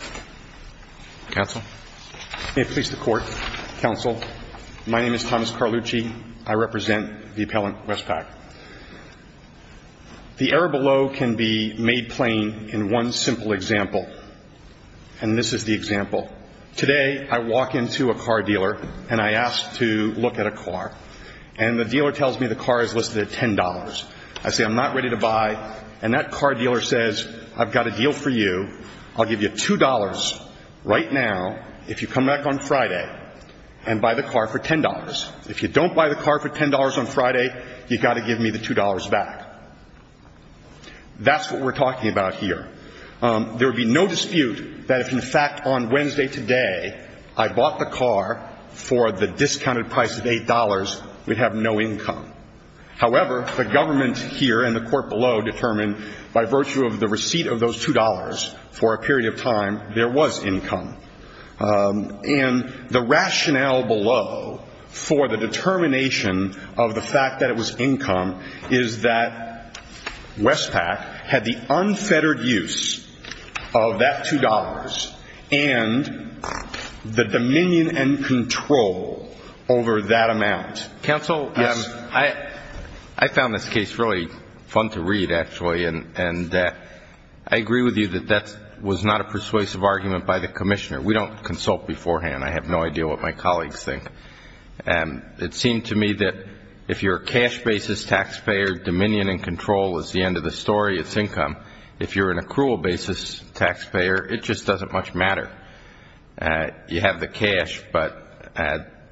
May it please the court, counsel. My name is Thomas Carlucci. I represent the appellant Westpac. The error below can be made plain in one simple example, and this is the example. Today I walk into a car dealer and I ask to look at a car, and the dealer tells me the car is listed at $10. I say I'm not ready to buy, and that car dealer says I've got a deal for you. I'll give you $2 right now if you come back on Friday and buy the car for $10. If you don't buy the car for $10 on Friday, you've got to give me the $2 back. That's what we're talking about here. There would be no dispute that if, in fact, on Wednesday today I bought the car for the discounted price of $8, we'd have no income. However, the government here and the court below determined by virtue of the receipt of those $2 for a period of time, there was income. And the rationale below for the determination of the fact that it was income is that Westpac had the unfettered use of that $2 and the dominion and control over that amount. Counsel, I found this case really fun to read, actually, and I agree with you that that was not a persuasive argument by the commissioner. We don't consult beforehand. I have no idea what my colleagues think. It seemed to me that if you're a cash basis taxpayer, dominion and control is the end of the story, it's income. If you're an accrual basis taxpayer, it just doesn't much matter. You have the cash, but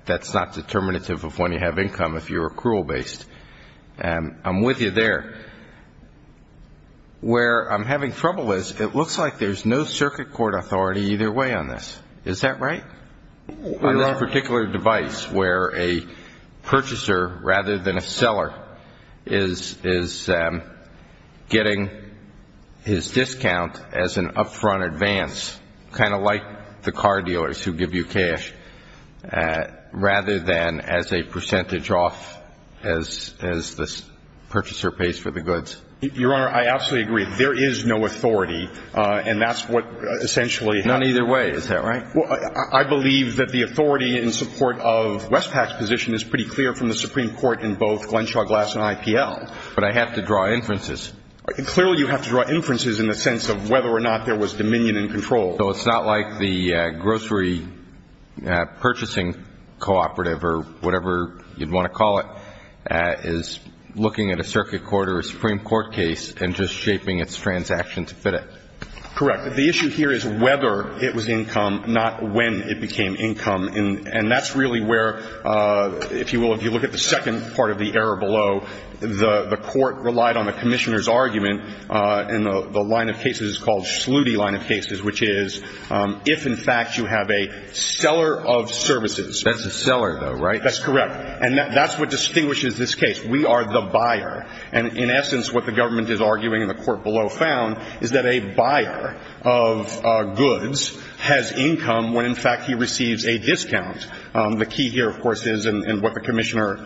that's not determinative of when you have income if you're accrual based. I'm with you there. Where I'm having trouble is it looks like there's no circuit court authority either way on this. Is that right? On this particular device where a purchaser, rather than a seller, is getting his discount as an upfront advance, kind of like the car dealers who give you cash, rather than as a percentage off as the purchaser pays for the goods. Your Honor, I absolutely agree. There is no authority, and that's what essentially happens. None either way, is that right? I believe that the authority in support of Westpac's position is pretty clear from the Supreme Court in both Glenshaw Glass and IPL. But I have to draw inferences. Clearly you have to draw inferences in the sense of whether or not there was dominion and control. So it's not like the grocery purchasing cooperative, or whatever you'd want to call it, is looking at a circuit court or a Supreme Court case and just shaping its transaction to fit it. Correct. The issue here is whether it was income, not when it became income. And that's really where, if you will, if you look at the second part of the error below, the Court relied on the Commissioner's argument in the line of cases called Slutty line of cases, which is if, in fact, you have a seller of services. That's the seller, though, right? That's correct. And that's what distinguishes this case. We are the buyer. And, in essence, what the government is arguing and the court below found is that a buyer of goods has income when, in fact, he receives a discount. The key here, of course, is, and what the Commissioner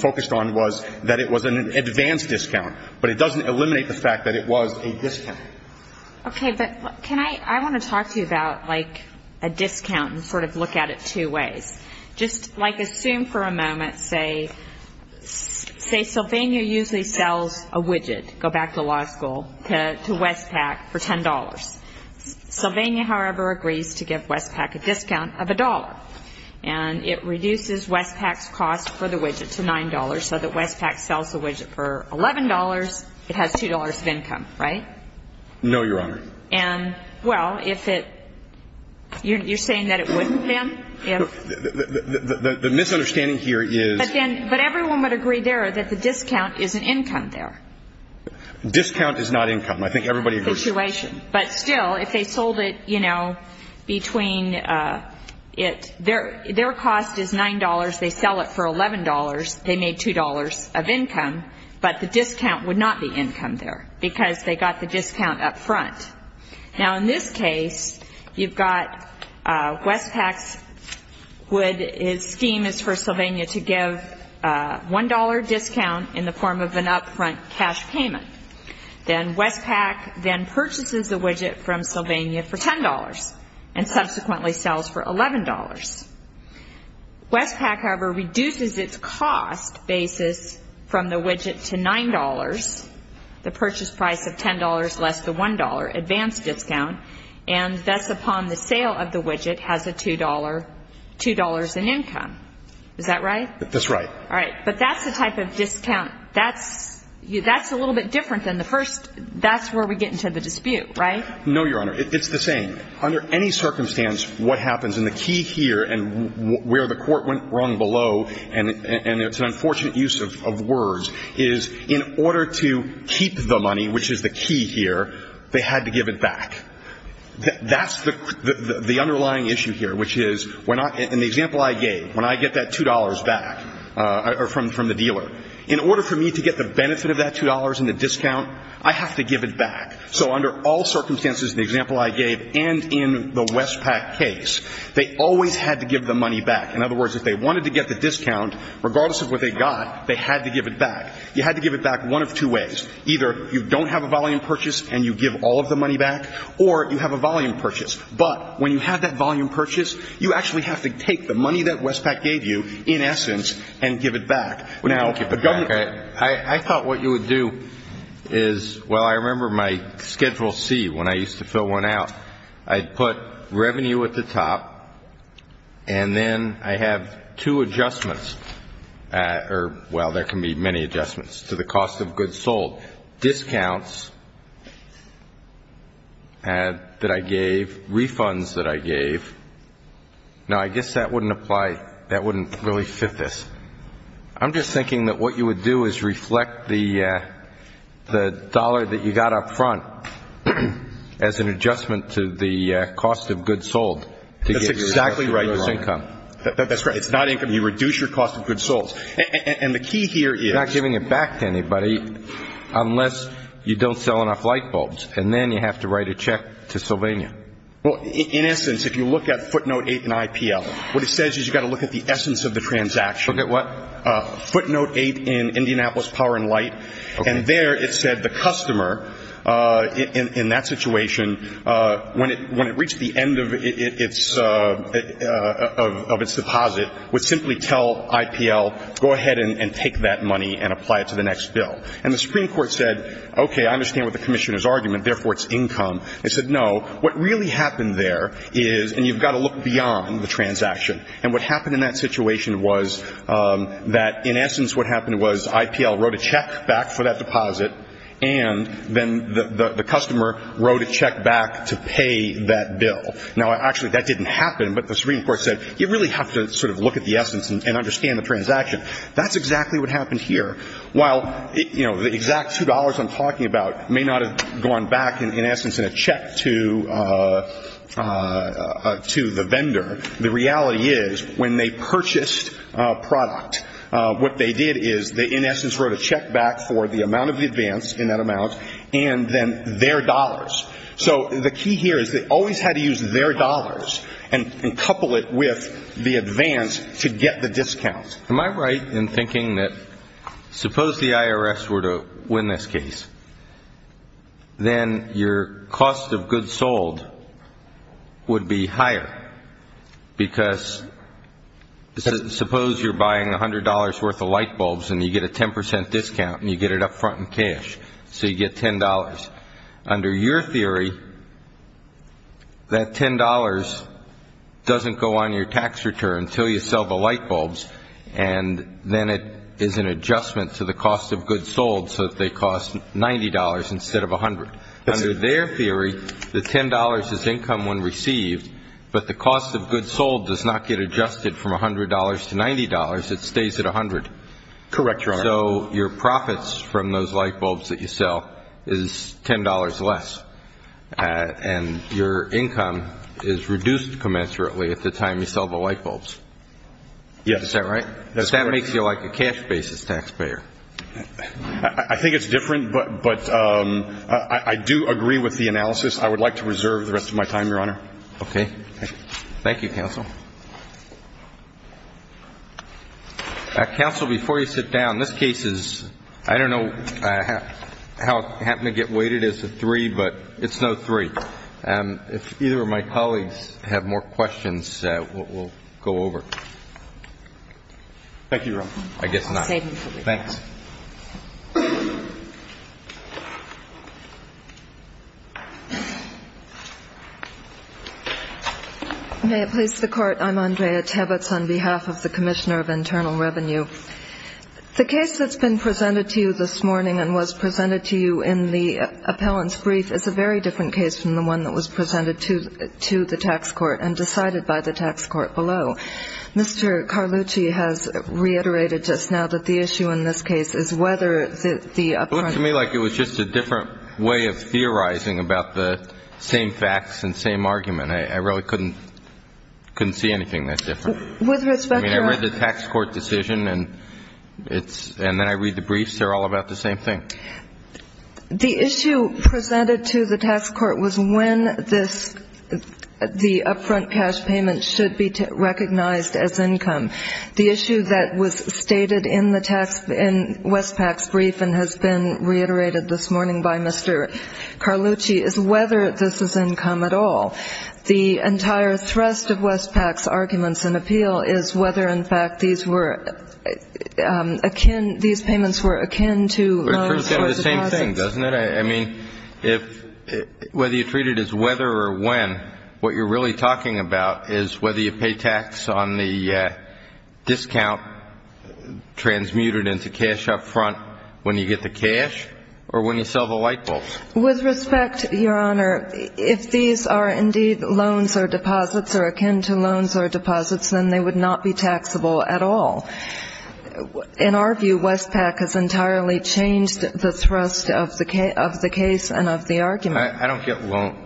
focused on, was that it was an advanced discount. But it doesn't eliminate the fact that it was a discount. Okay. But can I ‑‑ I want to talk to you about, like, a discount and sort of look at it two ways. Just, like, assume for a moment, say, say Sylvania usually sells a widget, go back to law school, to Westpac for $10. Sylvania, however, agrees to give Westpac a discount of $1. And it reduces Westpac's cost for the widget to $9, so that Westpac sells the widget for $11, it has $2 of income, right? No, Your Honor. And, well, if it ‑‑ you're saying that it wouldn't, ma'am? The misunderstanding here is ‑‑ But then, but everyone would agree there that the discount is an income there. Discount is not income. I think everybody agrees. Situation. But still, if they sold it, you know, between it ‑‑ their cost is $9. They sell it for $11. They made $2 of income. But the discount would not be income there, because they got the discount up front. Now, in this case, you've got Westpac's scheme is for Sylvania to give $1 discount in the form of an up front cash payment. Then Westpac then purchases the widget from Sylvania for $10 and subsequently sells for $11. Westpac, however, reduces its cost basis from the widget to $9, the purchase price of $10 less the $1. And thus, upon the sale of the widget, has a $2 ‑‑ $2 in income. Is that right? That's right. All right. But that's the type of discount. That's ‑‑ that's a little bit different than the first ‑‑ that's where we get into the dispute, right? No, Your Honor. It's the same. Under any circumstance, what happens, and the key here and where the court went wrong below, and it's an unfortunate use of words, is in order to keep the money, which is the key here, they had to give it back. That's the underlying issue here, which is, in the example I gave, when I get that $2 back from the dealer, in order for me to get the benefit of that $2 and the discount, I have to give it back. So under all circumstances, in the example I gave and in the Westpac case, they always had to give the money back. In other words, if they wanted to get the discount, regardless of what they got, they had to give it back. You had to give it back one of two ways. Either you don't have a volume purchase and you give all of the money back, or you have a volume purchase. But when you have that volume purchase, you actually have to take the money that Westpac gave you, in essence, and give it back. Thank you for that. I thought what you would do is, well, I remember my Schedule C, when I used to fill one out, I'd put revenue at the top, and then I have two adjustments. Or, well, there can be many adjustments to the cost of goods sold. Discounts that I gave, refunds that I gave. Now, I guess that wouldn't apply. That wouldn't really fit this. I'm just thinking that what you would do is reflect the dollar that you got up front as an adjustment to the cost of goods sold. That's exactly right. It's income. That's right. It's not income. You reduce your cost of goods sold. And the key here is. You're not giving it back to anybody unless you don't sell enough light bulbs, and then you have to write a check to Sylvania. Well, in essence, if you look at footnote 8 in IPL, what it says is you've got to look at the essence of the transaction. Look at what? Footnote 8 in Indianapolis Power and Light. And there it said the customer, in that situation, when it reached the end of its deposit, would simply tell IPL, go ahead and take that money and apply it to the next bill. And the Supreme Court said, okay, I understand what the Commissioner's argument. Therefore, it's income. It said, no, what really happened there is, and you've got to look beyond the transaction. And what happened in that situation was that, in essence, what happened was IPL wrote a check back for that deposit, and then the customer wrote a check back to pay that bill. Now, actually, that didn't happen, but the Supreme Court said, you really have to sort of look at the essence and understand the transaction. That's exactly what happened here. While, you know, the exact $2 I'm talking about may not have gone back, in essence, in a check to the vendor, the reality is when they purchased a product, what they did is they, in essence, wrote a check back for the amount of the advance in that amount and then their dollars. So the key here is they always had to use their dollars and couple it with the advance to get the discount. Am I right in thinking that suppose the IRS were to win this case, then your cost of goods sold would be higher because suppose you're buying $100 worth of light bulbs and you get a 10% discount and you get it up front in cash, so you get $10. Under your theory, that $10 doesn't go on your tax return until you sell the light bulbs, and then it is an adjustment to the cost of goods sold so that they cost $90 instead of $100. Under their theory, the $10 is income when received, but the cost of goods sold does not get adjusted from $100 to $90. It stays at $100. Correct, Your Honor. So your profits from those light bulbs that you sell is $10 less, and your income is reduced commensurately at the time you sell the light bulbs. Yes. Is that right? That's correct. Because that makes you like a cash basis taxpayer. I think it's different, but I do agree with the analysis. I would like to reserve the rest of my time, Your Honor. Okay. Thank you, Counsel. Counsel, before you sit down, this case is, I don't know how it happened to get weighted as a three, but it's no three. If either of my colleagues have more questions, we'll go over. Thank you, Your Honor. I guess not. Save me for later. Thanks. May it please the Court, I'm Andrea Tebitz on behalf of the Commissioner of Internal Revenue. The case that's been presented to you this morning and was presented to you in the appellant's brief is a very different case from the one that was presented to the tax court and decided by the tax court below. Mr. Carlucci has reiterated just now that the issue in this case is whether it's a three, It looked to me like it was just a different way of theorizing about the same facts and same argument. I really couldn't see anything that different. I mean, I read the tax court decision, and then I read the briefs. They're all about the same thing. The issue presented to the tax court was when the upfront cash payment should be recognized as income. The issue that was stated in Westpac's brief and has been reiterated this morning by Mr. Carlucci is whether this is income at all. The entire thrust of Westpac's arguments in appeal is whether, in fact, these payments were akin to short deposits. It's the same thing, doesn't it? I mean, whether you treat it as whether or when, what you're really talking about is whether you pay tax on the discount transmuted into cash up front when you get the cash or when you sell the light bulbs. With respect, Your Honor, if these are indeed loans or deposits or akin to loans or deposits, then they would not be taxable at all. In our view, Westpac has entirely changed the thrust of the case and of the argument. I don't get loan.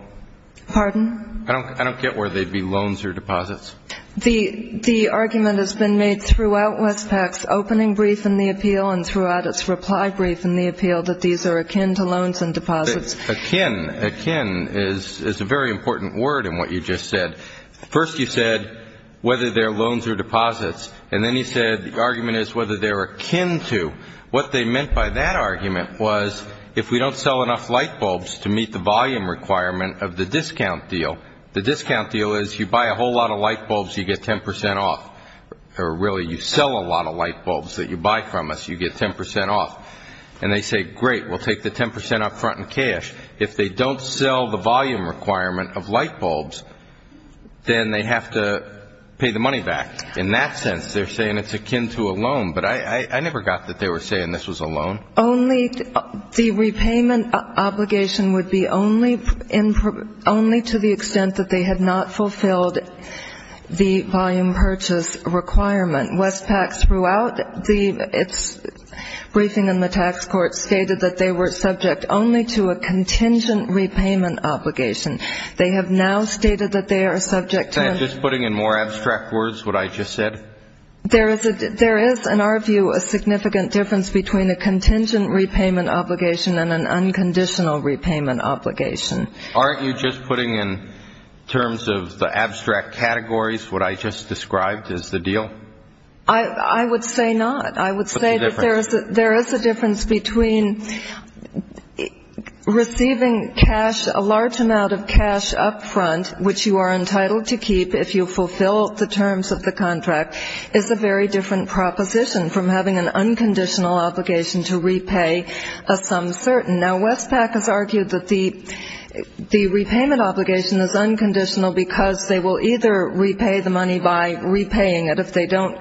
Pardon? I don't get where they'd be loans or deposits. The argument has been made throughout Westpac's opening brief in the appeal and throughout its reply brief in the appeal that these are akin to loans and deposits. Akin. Akin is a very important word in what you just said. First you said whether they're loans or deposits, and then you said the argument is whether they're akin to. What they meant by that argument was if we don't sell enough light bulbs to meet the volume requirement of the discount deal, the discount deal is you buy a whole lot of light bulbs, you get 10 percent off. Or really, you sell a lot of light bulbs that you buy from us, you get 10 percent off. And they say, great, we'll take the 10 percent up front in cash. If they don't sell the volume requirement of light bulbs, then they have to pay the money back. In that sense, they're saying it's akin to a loan. But I never got that they were saying this was a loan. Only the repayment obligation would be only to the extent that they had not fulfilled the volume purchase requirement. Westpac throughout its briefing in the tax court stated that they were subject only to a contingent repayment obligation. They have now stated that they are subject to a ñ Is that just putting in more abstract words what I just said? There is, in our view, a significant difference between a contingent repayment obligation and an unconditional repayment obligation. Aren't you just putting in terms of the abstract categories what I just described as the deal? I would say not. I would say that there is a difference between receiving cash, a large amount of cash up front, which you are entitled to keep if you fulfill the terms of the contract, is a very different proposition from having an unconditional obligation to repay a sum certain. Now, Westpac has argued that the repayment obligation is unconditional because they will either repay the money by repaying it if they don't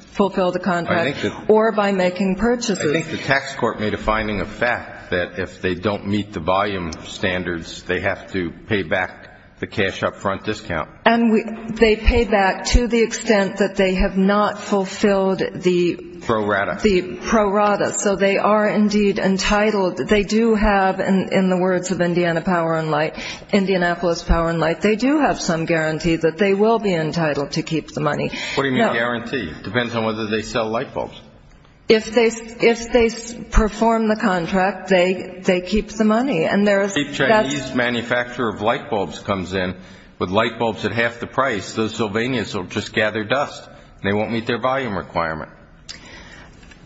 fulfill the contract or by making purchases. I think the tax court made a finding of fact that if they don't meet the volume standards, they have to pay back the cash up front discount. And they pay back to the extent that they have not fulfilled the ñ Pro rata. The pro rata. So they are indeed entitled. They do have, in the words of Indiana Power & Light, Indianapolis Power & Light, they do have some guarantee that they will be entitled to keep the money. What do you mean guarantee? It depends on whether they sell light bulbs. If they perform the contract, they keep the money. And there is ñ If a Chinese manufacturer of light bulbs comes in with light bulbs at half the price, the Sylvanians will just gather dust and they won't meet their volume requirement.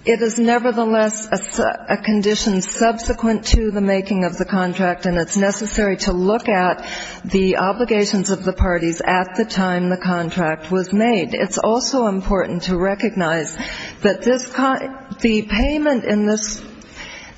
It is nevertheless a condition subsequent to the making of the contract, and it's necessary to look at the obligations of the parties at the time the contract was made. It's also important to recognize that this ñ the payment in this ñ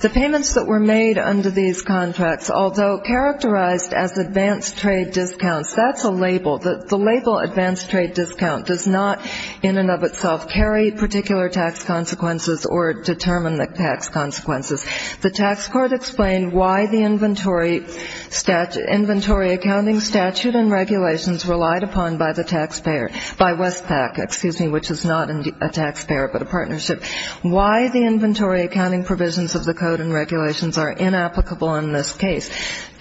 the payments that were made under these contracts, although characterized as advanced trade discounts, that's a label. The label advanced trade discount does not in and of itself carry particular tax consequences or determine the tax consequences. The tax court explained why the inventory accounting statute and regulations relied upon by the taxpayer, by Westpac, excuse me, which is not a taxpayer but a partnership, why the inventory accounting provisions of the code and regulations are inapplicable in this case.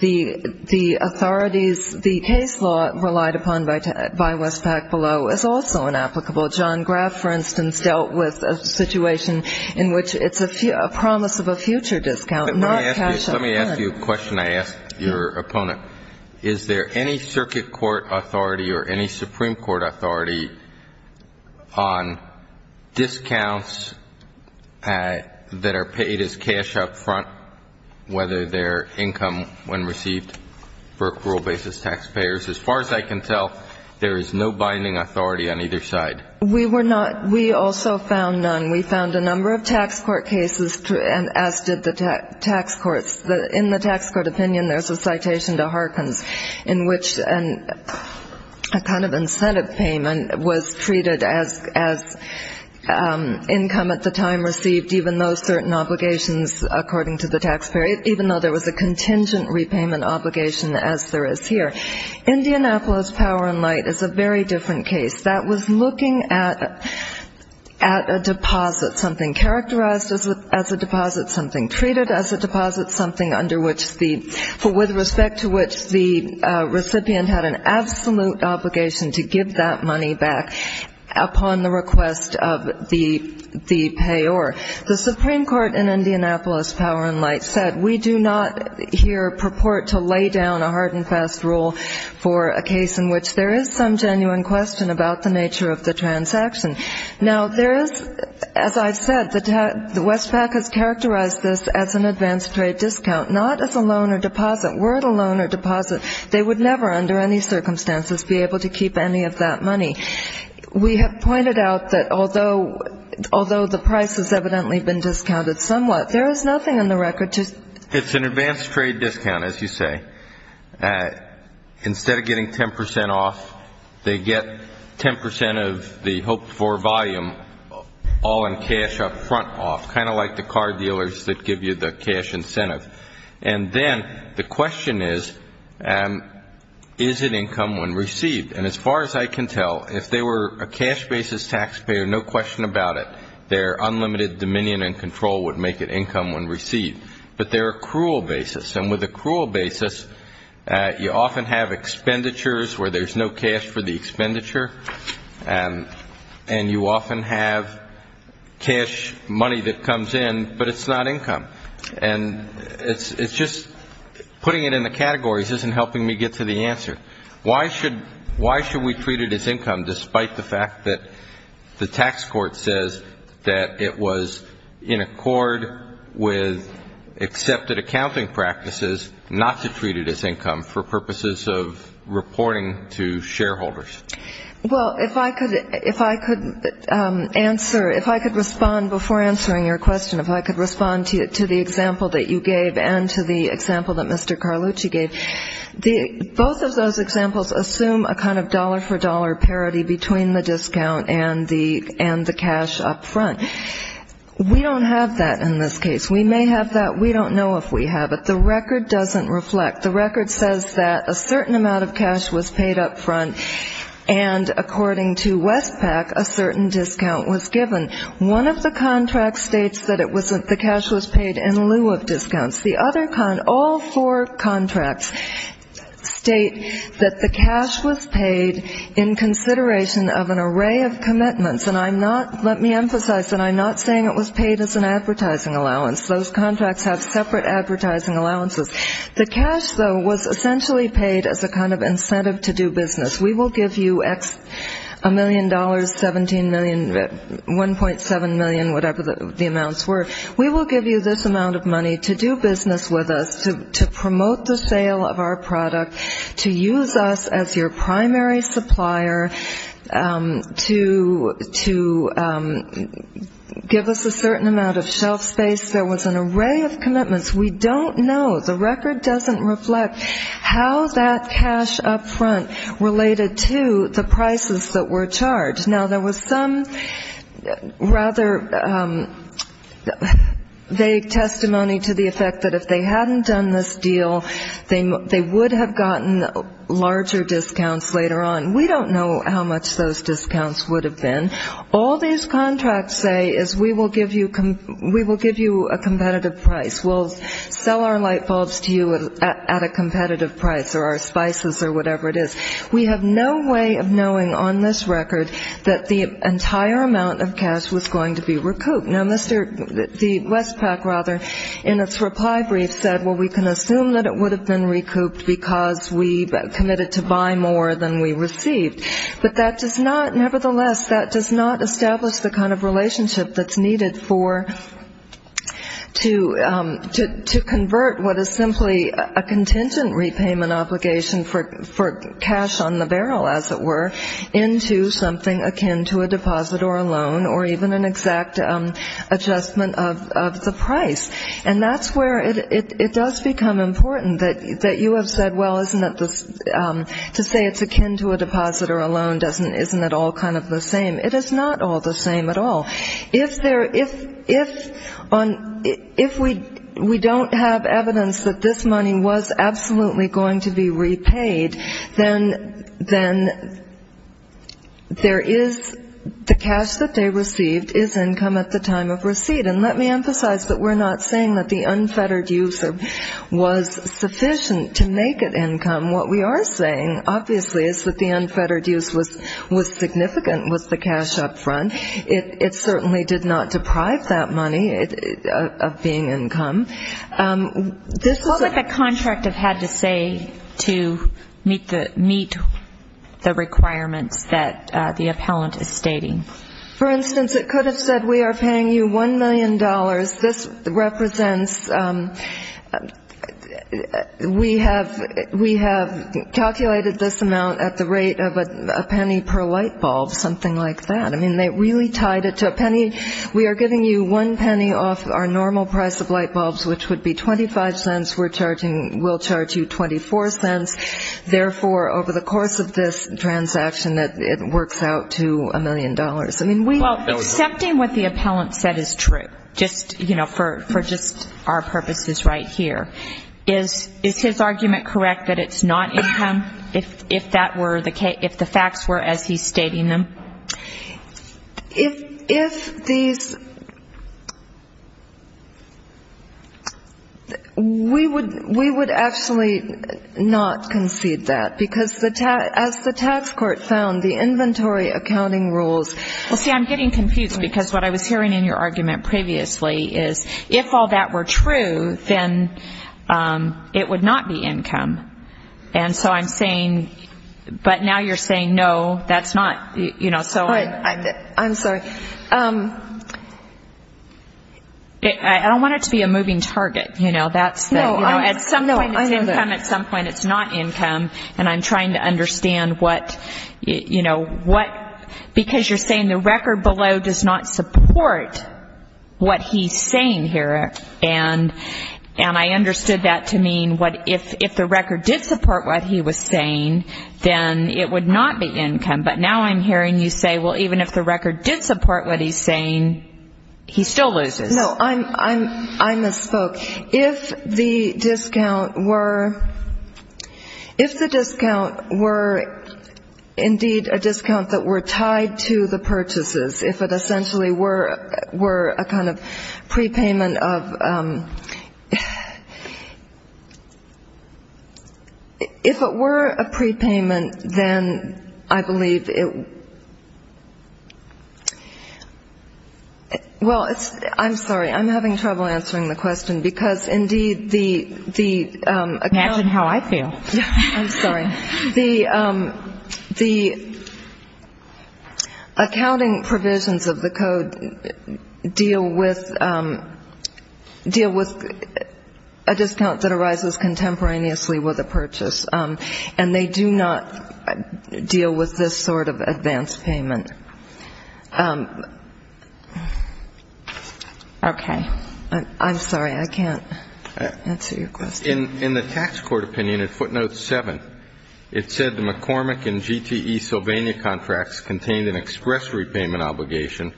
The authorities ñ the case law relied upon by Westpac below is also inapplicable. John Graff, for instance, dealt with a situation in which it's a promise of a future discount, not cash up front. Let me ask you a question I asked your opponent. Is there any circuit court authority or any Supreme Court authority on discounts that are paid as cash up front, whether they're income when received for accrual basis taxpayers? As far as I can tell, there is no binding authority on either side. We were not ñ we also found none. We found a number of tax court cases, as did the tax courts. In the tax court opinion, there's a citation to Harkins in which a kind of incentive payment was treated as income at the time received, even though certain obligations, according to the taxpayer, even though there was a contingent repayment obligation as there is here. Indianapolis Power and Light is a very different case. That was looking at a deposit, something characterized as a deposit, something treated as a deposit, something under which the ñ with respect to which the recipient had an absolute obligation to give that money back upon the request of the payor. The Supreme Court in Indianapolis Power and Light said we do not here purport to lay down a hard and fast rule for a case in which there is some genuine question about the nature of the transaction. Now, there is ñ as I've said, the Westpac has characterized this as an advanced trade discount, not as a loan or deposit. Were it a loan or deposit, they would never, under any circumstances, be able to keep any of that money. We have pointed out that although the price has evidently been discounted somewhat, there is nothing on the record to ñ It's an advanced trade discount, as you say. Instead of getting 10 percent off, they get 10 percent of the hoped-for volume all in cash up front off, kind of like the car dealers that give you the cash incentive. And then the question is, is it income when received? And as far as I can tell, if they were a cash basis taxpayer, no question about it, their unlimited dominion and control would make it income when received. But they're a cruel basis. And with a cruel basis, you often have expenditures where there's no cash for the expenditure, and you often have cash money that comes in, but it's not income. And it's just ñ putting it in the categories isn't helping me get to the answer. Why should we treat it as income, despite the fact that the tax court says that it was in accord with accepted accounting practices not to treat it as income for purposes of reporting to shareholders? Well, if I could answer ñ if I could respond before answering your question, if I could respond to the example that you gave and to the example that Mr. Carlucci gave. Both of those examples assume a kind of dollar-for-dollar parity between the discount and the cash up front. We don't have that in this case. We may have that. We don't know if we have it. The record doesn't reflect. The record says that a certain amount of cash was paid up front, and according to Westpac, a certain discount was given. One of the contracts states that the cash was paid in lieu of discounts. The other ñ all four contracts state that the cash was paid in consideration of an array of commitments. And I'm not ñ let me emphasize that I'm not saying it was paid as an advertising allowance. Those contracts have separate advertising allowances. The cash, though, was essentially paid as a kind of incentive to do business. We will give you a million dollars, 17 million, 1.7 million, whatever the amounts were. We will give you this amount of money to do business with us, to promote the sale of our product, to use us as your primary supplier, to give us a certain amount of shelf space. There was an array of commitments. We don't know. The record doesn't reflect how that cash up front related to the prices that were charged. Now, there was some rather vague testimony to the effect that if they hadn't done this deal, they would have gotten larger discounts later on. We don't know how much those discounts would have been. All these contracts say is we will give you a competitive price. We'll sell our light bulbs to you at a competitive price or our spices or whatever it is. We have no way of knowing on this record that the entire amount of cash was going to be recouped. Now, the Westpac, rather, in its reply brief said, well, we can assume that it would have been recouped because we committed to buy more than we received. But that does not, nevertheless, that does not establish the kind of relationship that's needed to convert what is simply a contingent repayment obligation for cash on the barrel, as it were, into something akin to a deposit or a loan or even an exact adjustment of the price. And that's where it does become important that you have said, well, isn't it, to say it's akin to a deposit or a loan isn't at all kind of the same. It is not all the same at all. If we don't have evidence that this money was absolutely going to be repaid, then there is the cash that they received is income at the time of receipt. And let me emphasize that we're not saying that the unfettered use was sufficient to make it income. What we are saying, obviously, is that the unfettered use was significant with the cash up front. It certainly did not deprive that money of being income. What would the contract have had to say to meet the requirements that the appellant is stating? For instance, it could have said we are paying you $1 million. This represents we have calculated this amount at the rate of a penny per light bulb, something like that. I mean, they really tied it to a penny. We are giving you one penny off our normal price of light bulbs, which would be 25 cents. We're charging, we'll charge you 24 cents. Therefore, over the course of this transaction, it works out to a million dollars. I mean, we. Well, accepting what the appellant said is true, just, you know, for just our purposes right here. Is his argument correct that it's not income, if that were the case, if the facts were as he's stating them? If these, we would actually not concede that, because as the tax court found, the inventory accounting rules. Well, see, I'm getting confused, because what I was hearing in your argument previously is if all that were true, then it would not be income. And so I'm saying, but now you're saying no, that's not, you know, so. I'm sorry. I don't want it to be a moving target. You know, that's the, you know, at some point it's income, at some point it's not income. And I'm trying to understand what, you know, what, because you're saying the record below does not support what he's saying here. And I understood that to mean what, if the record did support what he was saying, then it would not be income. But now I'm hearing you say, well, even if the record did support what he's saying, he still loses. No, I misspoke. If the discount were, if the discount were indeed a discount that were tied to the purchases, if it essentially were a kind of prepayment of, if it were a prepayment, then I believe it, well, it's, I'm sorry. I'm having trouble answering the question because, indeed, the accounting. Imagine how I feel. I'm sorry. The accounting provisions of the code deal with, deal with a discount that arises contemporaneously with a purchase. And they do not deal with this sort of advance payment. Okay. I'm sorry. I can't answer your question. In the tax court opinion at footnote 7, it said the McCormick and GTE Sylvania contracts contained an express repayment obligation.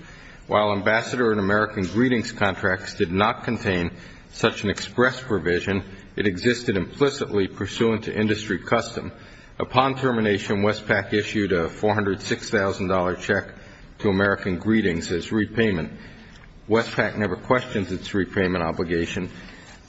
While Ambassador and American Greetings contracts did not contain such an express provision, it existed implicitly pursuant to industry custom. Upon termination, Westpac issued a $406,000 check to American Greetings as repayment. Westpac never questions its repayment obligation.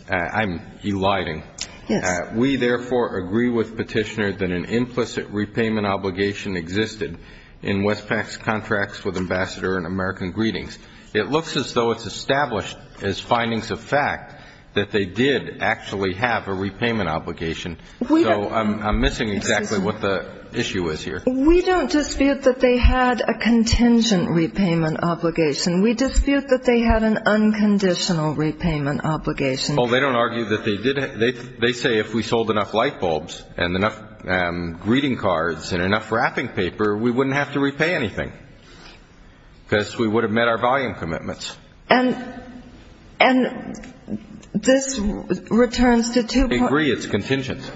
I'm eliding. Yes. We, therefore, agree with Petitioner that an implicit repayment obligation existed in Westpac's contracts with Ambassador and American Greetings. It looks as though it's established as findings of fact that they did actually have a repayment obligation. So I'm missing exactly what the issue is here. We don't dispute that they had a contingent repayment obligation. We dispute that they had an unconditional repayment obligation. Oh, they don't argue that they did. They say if we sold enough light bulbs and enough greeting cards and enough wrapping paper, we wouldn't have to repay anything because we would have met our volume commitments. And this returns to two points. We agree it's contingent.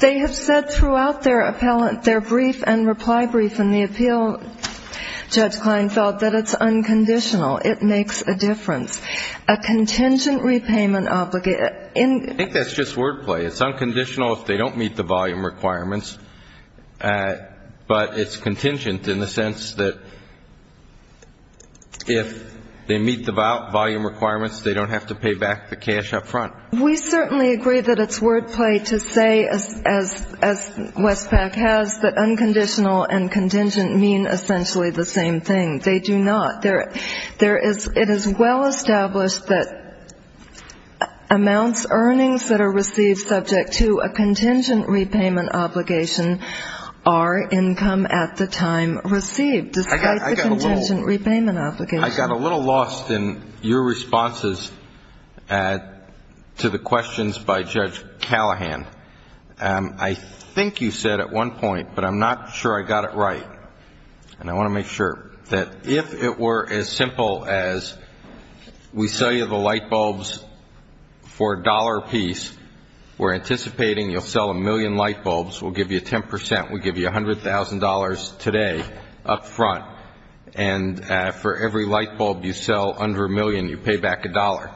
They have said throughout their brief and reply brief in the appeal, Judge Kline, felt that it's unconditional. It makes a difference. A contingent repayment obligation. I think that's just wordplay. It's unconditional if they don't meet the volume requirements. But it's contingent in the sense that if they meet the volume requirements, they don't have to pay back the cash up front. We certainly agree that it's wordplay to say, as Westpac has, that unconditional and contingent mean essentially the same thing. They do not. It is well established that amounts, earnings that are received subject to a contingent repayment obligation are income at the time received, despite the contingent repayment obligation. I got a little lost in your responses to the questions by Judge Callahan. I think you said at one point, but I'm not sure I got it right, and I want to make sure, that if it were as simple as we sell you the light bulbs for a dollar apiece, we're anticipating you'll sell a million light bulbs, we'll give you 10 percent, we'll give you $100,000 today up front. And for every light bulb you sell under a million, you pay back a dollar.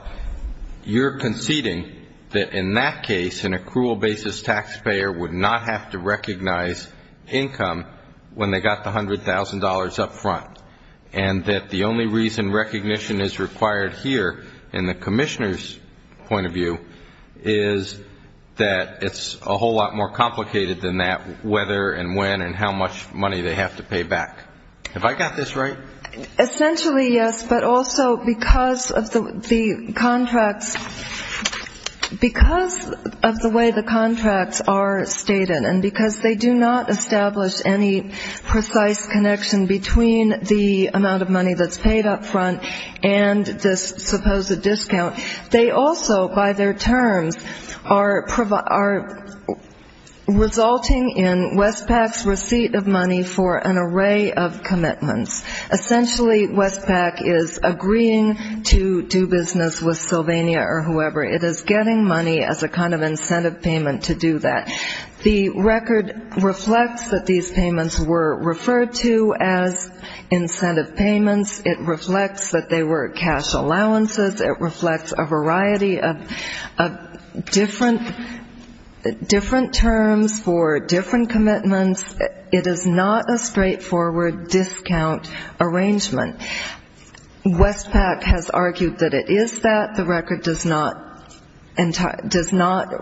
You're conceding that in that case, an accrual basis taxpayer would not have to recognize income when they got the $100,000 up front, and that the only reason recognition is required here in the commissioner's point of view is that it's a whole lot more complicated than that, whether and when and how much money they have to pay back. Have I got this right? Essentially, yes, but also because of the contracts, because of the way the contracts are stated and because they do not establish any precise connection between the amount of money that's paid up front and this supposed discount, they also, by their terms, are resulting in Westpac's receipt of money for an array of commitments. Essentially, Westpac is agreeing to do business with Sylvania or whoever. It is getting money as a kind of incentive payment to do that. The record reflects that these payments were referred to as incentive payments. It reflects that they were cash allowances. It reflects a variety of different terms for different commitments. It is not a straightforward discount arrangement. Westpac has argued that it is that. The record does not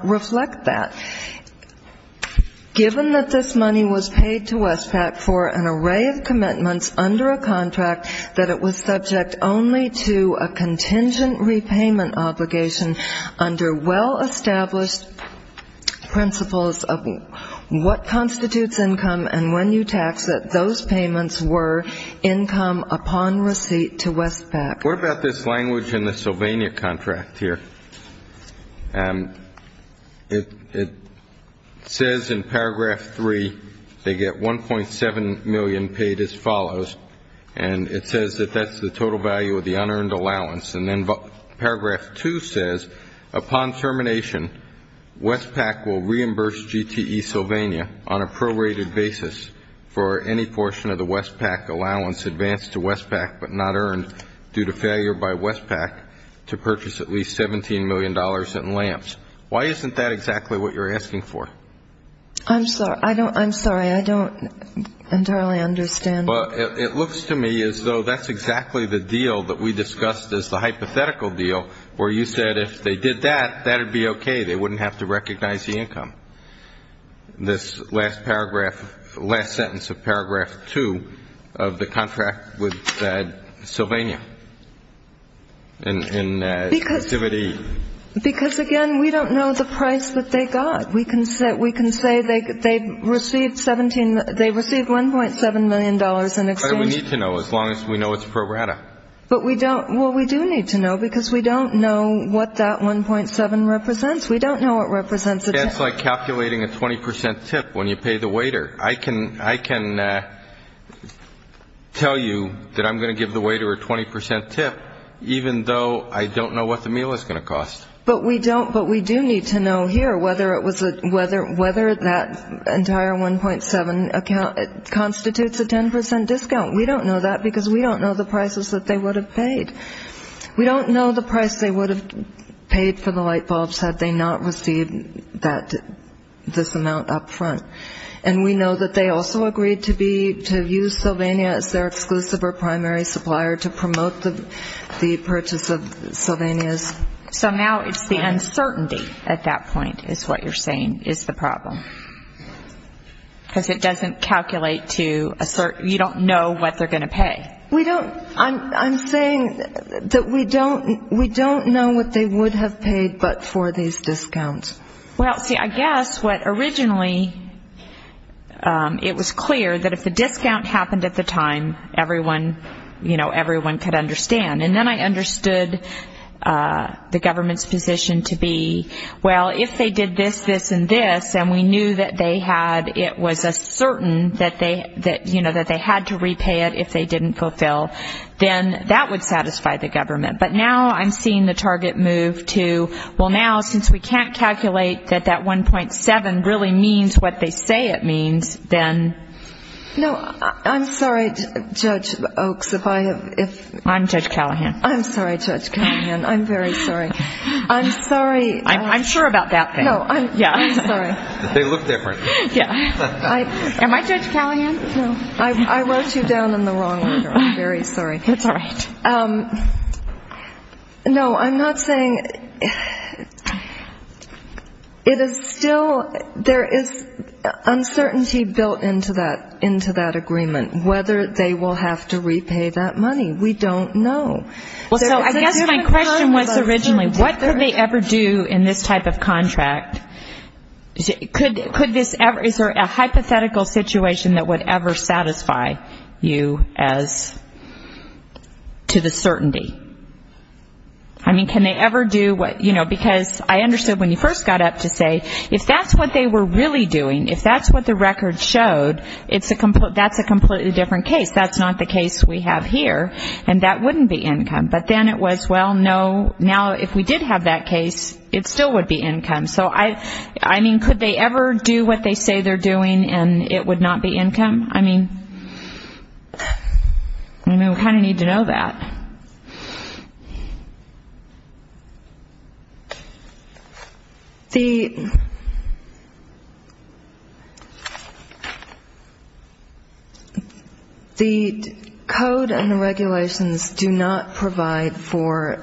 reflect that. Given that this money was paid to Westpac for an array of commitments under a contract, that it was subject only to a contingent repayment obligation under well-established principles of what constitutes income and when you tax it, those payments were income upon receipt to Westpac. What about this language in the Sylvania contract here? It says in Paragraph 3 they get $1.7 million paid as follows, and it says that that's the total value of the unearned allowance. And then Paragraph 2 says upon termination, Westpac will reimburse GTE Sylvania on a prorated basis for any portion of the Westpac allowance advanced to Westpac but not earned due to failure by Westpac to purchase at least $17 million in lamps. Why isn't that exactly what you're asking for? I'm sorry. I don't entirely understand. Well, it looks to me as though that's exactly the deal that we discussed as the hypothetical deal, where you said if they did that, that would be okay. They wouldn't have to recognize the income. This last paragraph, last sentence of Paragraph 2 of the contract with Sylvania in activity. Because, again, we don't know the price that they got. We can say they received $1.7 million in exchange. But we need to know as long as we know it's prorated. Well, we do need to know because we don't know what that $1.7 represents. We don't know what it represents. It's like calculating a 20% tip when you pay the waiter. I can tell you that I'm going to give the waiter a 20% tip, even though I don't know what the meal is going to cost. But we do need to know here whether that entire $1.7 constitutes a 10% discount. We don't know that because we don't know the prices that they would have paid. We don't know the price they would have paid for the light bulbs had they not received this amount up front. And we know that they also agreed to use Sylvania as their exclusive or primary supplier to promote the purchase of Sylvania's. So now it's the uncertainty at that point is what you're saying is the problem. Because it doesn't calculate to a certain you don't know what they're going to pay. I'm saying that we don't know what they would have paid but for these discounts. Well, see, I guess what originally it was clear that if the discount happened at the time, everyone could understand. And then I understood the government's position to be, well, if they did this, this, and this, and we knew that they had, it was a certain that they had to repay it if they didn't fulfill, then that would satisfy the government. But now I'm seeing the target move to, well, now since we can't calculate that that $1.7 really means what they say it means, then. No, I'm sorry, Judge Oaks, if I have, if. I'm Judge Callahan. I'm sorry, Judge Callahan. I'm very sorry. I'm sorry. I'm sure about that thing. No, I'm sorry. They look different. Yeah. Am I Judge Callahan? No. I wrote you down in the wrong order. I'm very sorry. That's all right. No, I'm not saying it is still, there is uncertainty built into that agreement whether they will have to repay that money. We don't know. Well, so I guess my question was originally what could they ever do in this type of contract? Could this ever, is there a hypothetical situation that would ever satisfy you as to the certainty? I mean, can they ever do, you know, because I understood when you first got up to say if that's what they were really doing, if that's what the record showed, that's a completely different case. That's not the case we have here, and that wouldn't be income. But then it was, well, no, now if we did have that case, it still would be income. So, I mean, could they ever do what they say they're doing and it would not be income? I mean, we kind of need to know that. The code and the regulations do not provide for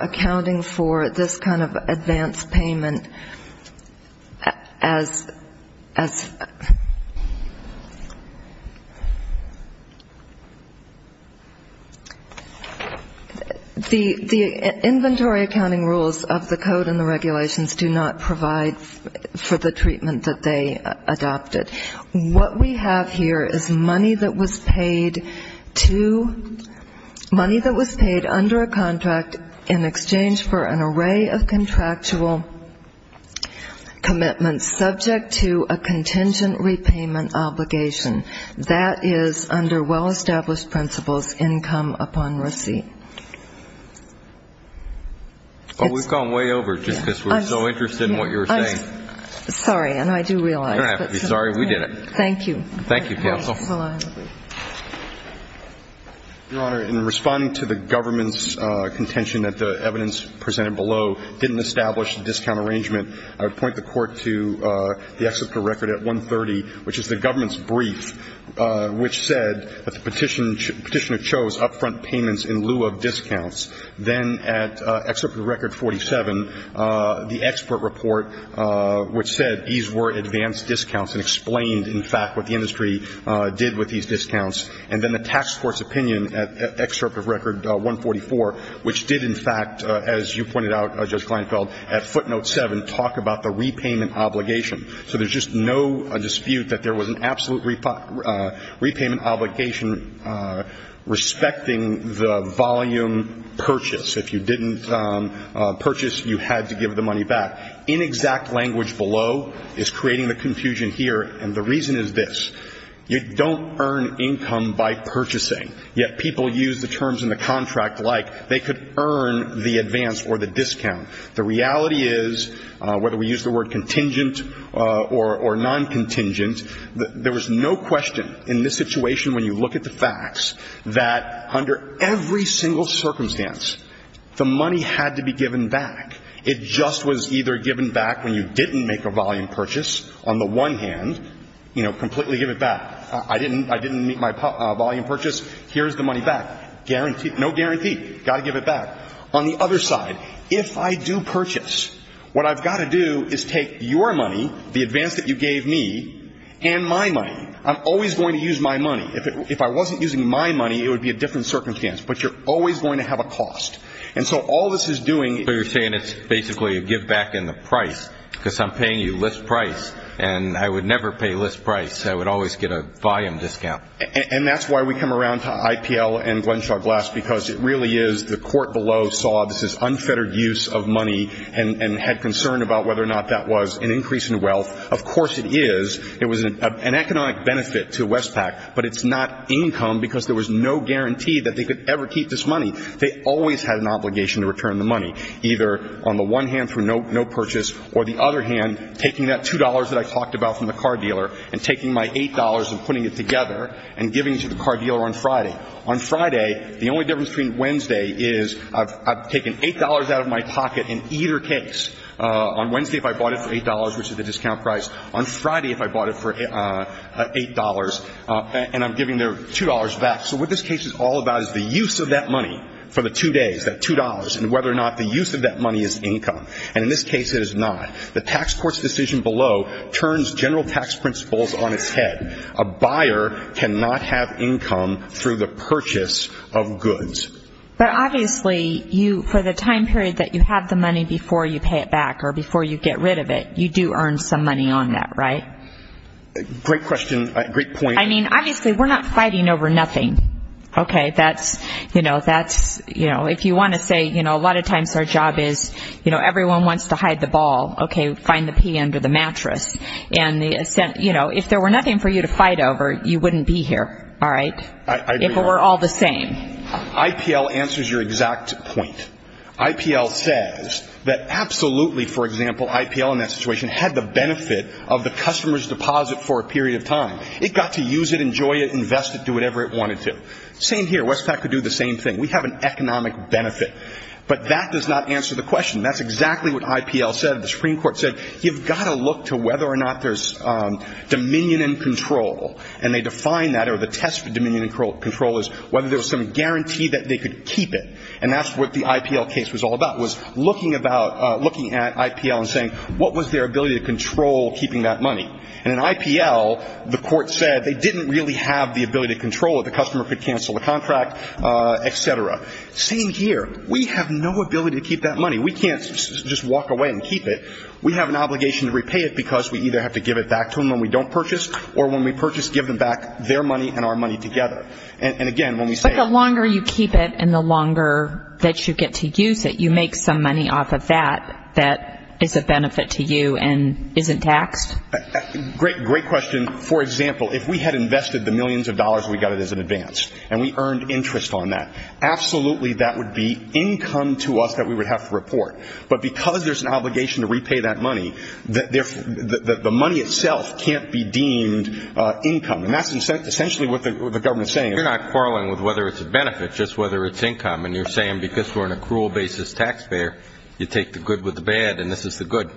accounting for this kind of advanced payment as, as the inventory accounting rules of the code and the regulations do not provide for the treatment that they adopted. What we have here is money that was paid to, money that was paid under a contract in exchange for an array of contractual commitments subject to a contingent repayment obligation. That is under well-established principles, income upon receipt. Well, we've gone way over just because we're so interested in what you were saying. Sorry, and I do realize. You don't have to be sorry. We did it. Thank you. Thank you, counsel. Your Honor, in responding to the government's contention that the evidence presented below didn't establish the discount arrangement, I would point the Court to the excerpt of record at 130, which is the government's brief, which said that the petitioner chose upfront payments in lieu of discounts. Then at excerpt of record 47, the expert report, which said these were advanced discounts and explained, in fact, what the industry did with these discounts. And then the tax court's opinion at excerpt of record 144, which did, in fact, as you pointed out, Judge Kleinfeld, at footnote 7, talk about the repayment obligation. So there's just no dispute that there was an absolute repayment obligation respecting the volume purchase. If you didn't purchase, you had to give the money back. Inexact language below is creating the confusion here, and the reason is this. You don't earn income by purchasing. Yet people use the terms in the contract like they could earn the advance or the discount. The reality is, whether we use the word contingent or non-contingent, there was no question in this situation when you look at the facts that under every single circumstance, the money had to be given back. It just was either given back when you didn't make a volume purchase, on the one hand, you know, completely give it back. I didn't make my volume purchase. Here's the money back. Guaranteed. No guarantee. Got to give it back. On the other side, if I do purchase, what I've got to do is take your money, the advance that you gave me, and my money. I'm always going to use my money. If I wasn't using my money, it would be a different circumstance. But you're always going to have a cost. And so all this is doing is basically giving back in the price, because I'm paying you list price, and I would never pay list price. I would always get a volume discount. And that's why we come around to IPL and Glenshaw Glass, because it really is the court below saw this unfettered use of money and had concern about whether or not that was an increase in wealth. Of course it is. It was an economic benefit to Westpac, but it's not income, because there was no guarantee that they could ever keep this money. They always had an obligation to return the money, either on the one hand through no purchase, or the other hand, taking that $2 that I talked about from the car dealer and taking my $8 and putting it together and giving it to the car dealer on Friday. On Friday, the only difference between Wednesday is I've taken $8 out of my pocket in either case. On Wednesday, if I bought it for $8, which is the discount price, on Friday if I bought it for $8, and I'm giving their $2 back. So what this case is all about is the use of that money for the two days, that $2, and whether or not the use of that money is income. And in this case it is not. The tax court's decision below turns general tax principles on its head. A buyer cannot have income through the purchase of goods. But obviously, for the time period that you have the money before you pay it back or before you get rid of it, you do earn some money on that, right? Great question. Great point. I mean, obviously, we're not fighting over nothing. Okay, that's, you know, that's, you know, if you want to say, you know, a lot of times our job is, you know, everyone wants to hide the ball. Okay, find the pee under the mattress. And, you know, if there were nothing for you to fight over, you wouldn't be here, all right? If it were all the same. IPL answers your exact point. IPL says that absolutely, for example, IPL in that situation had the benefit of the customer's deposit for a period of time. It got to use it, enjoy it, invest it, do whatever it wanted to. Same here. Westpac could do the same thing. We have an economic benefit. But that does not answer the question. That's exactly what IPL said. The Supreme Court said, you've got to look to whether or not there's dominion and control. And they defined that, or the test for dominion and control is whether there was some guarantee that they could keep it. And that's what the IPL case was all about, was looking at IPL and saying, what was their ability to control keeping that money? And in IPL, the court said they didn't really have the ability to control it. The customer could cancel the contract, et cetera. Same here. We have no ability to keep that money. We can't just walk away and keep it. We have an obligation to repay it because we either have to give it back to them when we don't purchase or when we purchase, give them back their money and our money together. And, again, when we say that. But the longer you keep it and the longer that you get to use it, you make some money off of that that is a benefit to you and isn't taxed? Great question. For example, if we had invested the millions of dollars we got as an advance and we earned interest on that, absolutely that would be income to us that we would have to report. But because there's an obligation to repay that money, the money itself can't be deemed income. And that's essentially what the government is saying. You're not quarreling with whether it's a benefit, just whether it's income. And you're saying because we're an accrual basis taxpayer, you take the good with the bad and this is the good.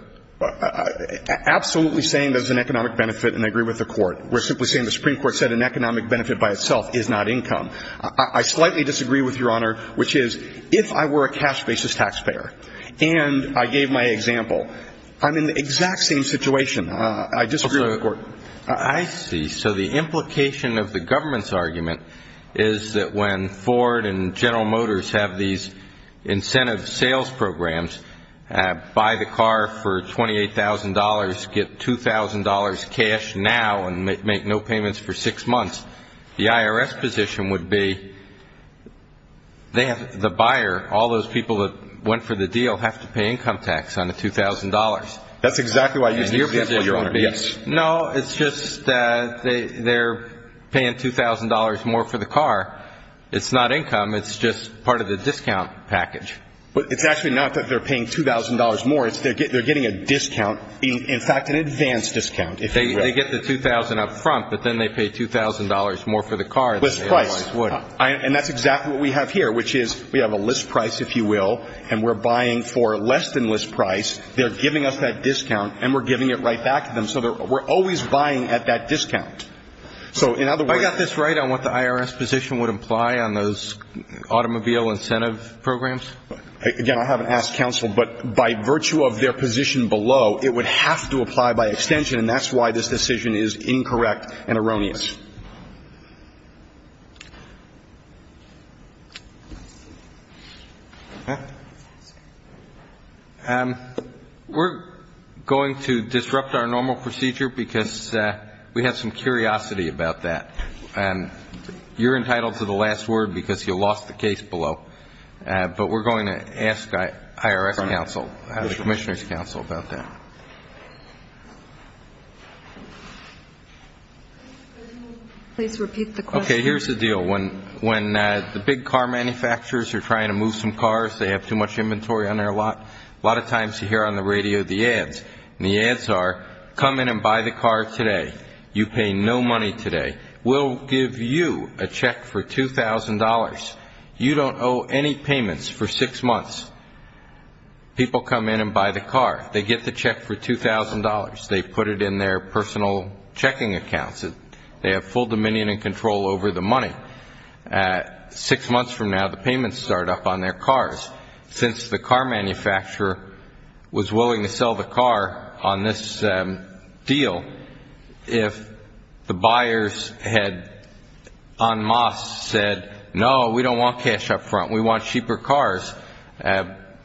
Absolutely saying there's an economic benefit and I agree with the court. We're simply saying the Supreme Court said an economic benefit by itself is not income. I slightly disagree with Your Honor, which is if I were a cash basis taxpayer and I gave my example, I'm in the exact same situation. I disagree with the court. I see. So the implication of the government's argument is that when Ford and General Motors have these incentive sales programs, buy the car for $28,000, get $2,000 cash now and make no payments for six months, the IRS position would be the buyer, all those people that went for the deal, have to pay income tax on the $2,000. That's exactly why you said that, Your Honor. No, it's just they're paying $2,000 more for the car. It's not income. It's just part of the discount package. It's actually not that they're paying $2,000 more. They're getting a discount, in fact, an advance discount. They get the $2,000 up front, but then they pay $2,000 more for the car. List price. And that's exactly what we have here, which is we have a list price, if you will, and we're buying for less than list price. They're giving us that discount and we're giving it right back to them. So we're always buying at that discount. I got this right on what the IRS position would imply on those automobile incentive programs? Again, I haven't asked counsel, but by virtue of their position below, it would have to apply by extension, and that's why this decision is incorrect and erroneous. Thank you. We're going to disrupt our normal procedure because we have some curiosity about that. You're entitled to the last word because you lost the case below, but we're going to ask the IRS counsel, the Commissioner's counsel about that. Please repeat the question. Okay, here's the deal. When the big car manufacturers are trying to move some cars, they have too much inventory on their lot, a lot of times you hear on the radio the ads, and the ads are, come in and buy the car today. You pay no money today. We'll give you a check for $2,000. You don't owe any payments for six months. People come in and buy the car. They get the check for $2,000. They put it in their personal checking accounts. They have full dominion and control over the money. Six months from now, the payments start up on their cars. Since the car manufacturer was willing to sell the car on this deal, if the buyers had en masse said, no, we don't want cash up front, we want cheaper cars,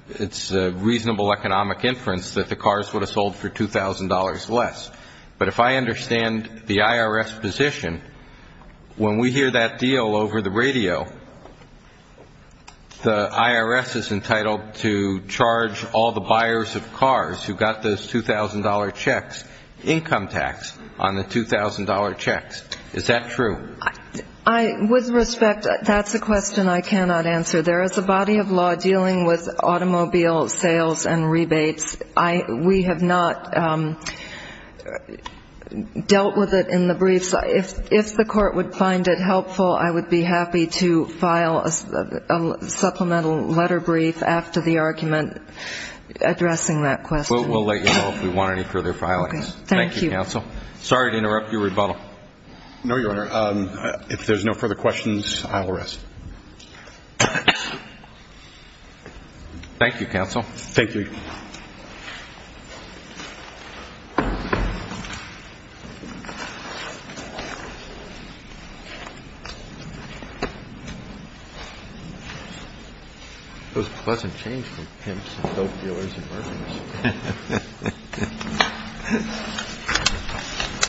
it's reasonable economic inference that the cars would have sold for $2,000 less. But if I understand the IRS position, when we hear that deal over the radio, the IRS is entitled to charge all the buyers of cars who got those $2,000 checks, income tax on the $2,000 checks. Is that true? With respect, that's a question I cannot answer. There is a body of law dealing with automobile sales and rebates. We have not dealt with it in the briefs. If the court would find it helpful, I would be happy to file a supplemental letter brief after the argument addressing that question. We'll let you know if we want any further filings. Thank you, counsel. Sorry to interrupt your rebuttal. No, Your Honor. If there's no further questions, I will rest. Thank you, counsel. Thank you, Your Honor.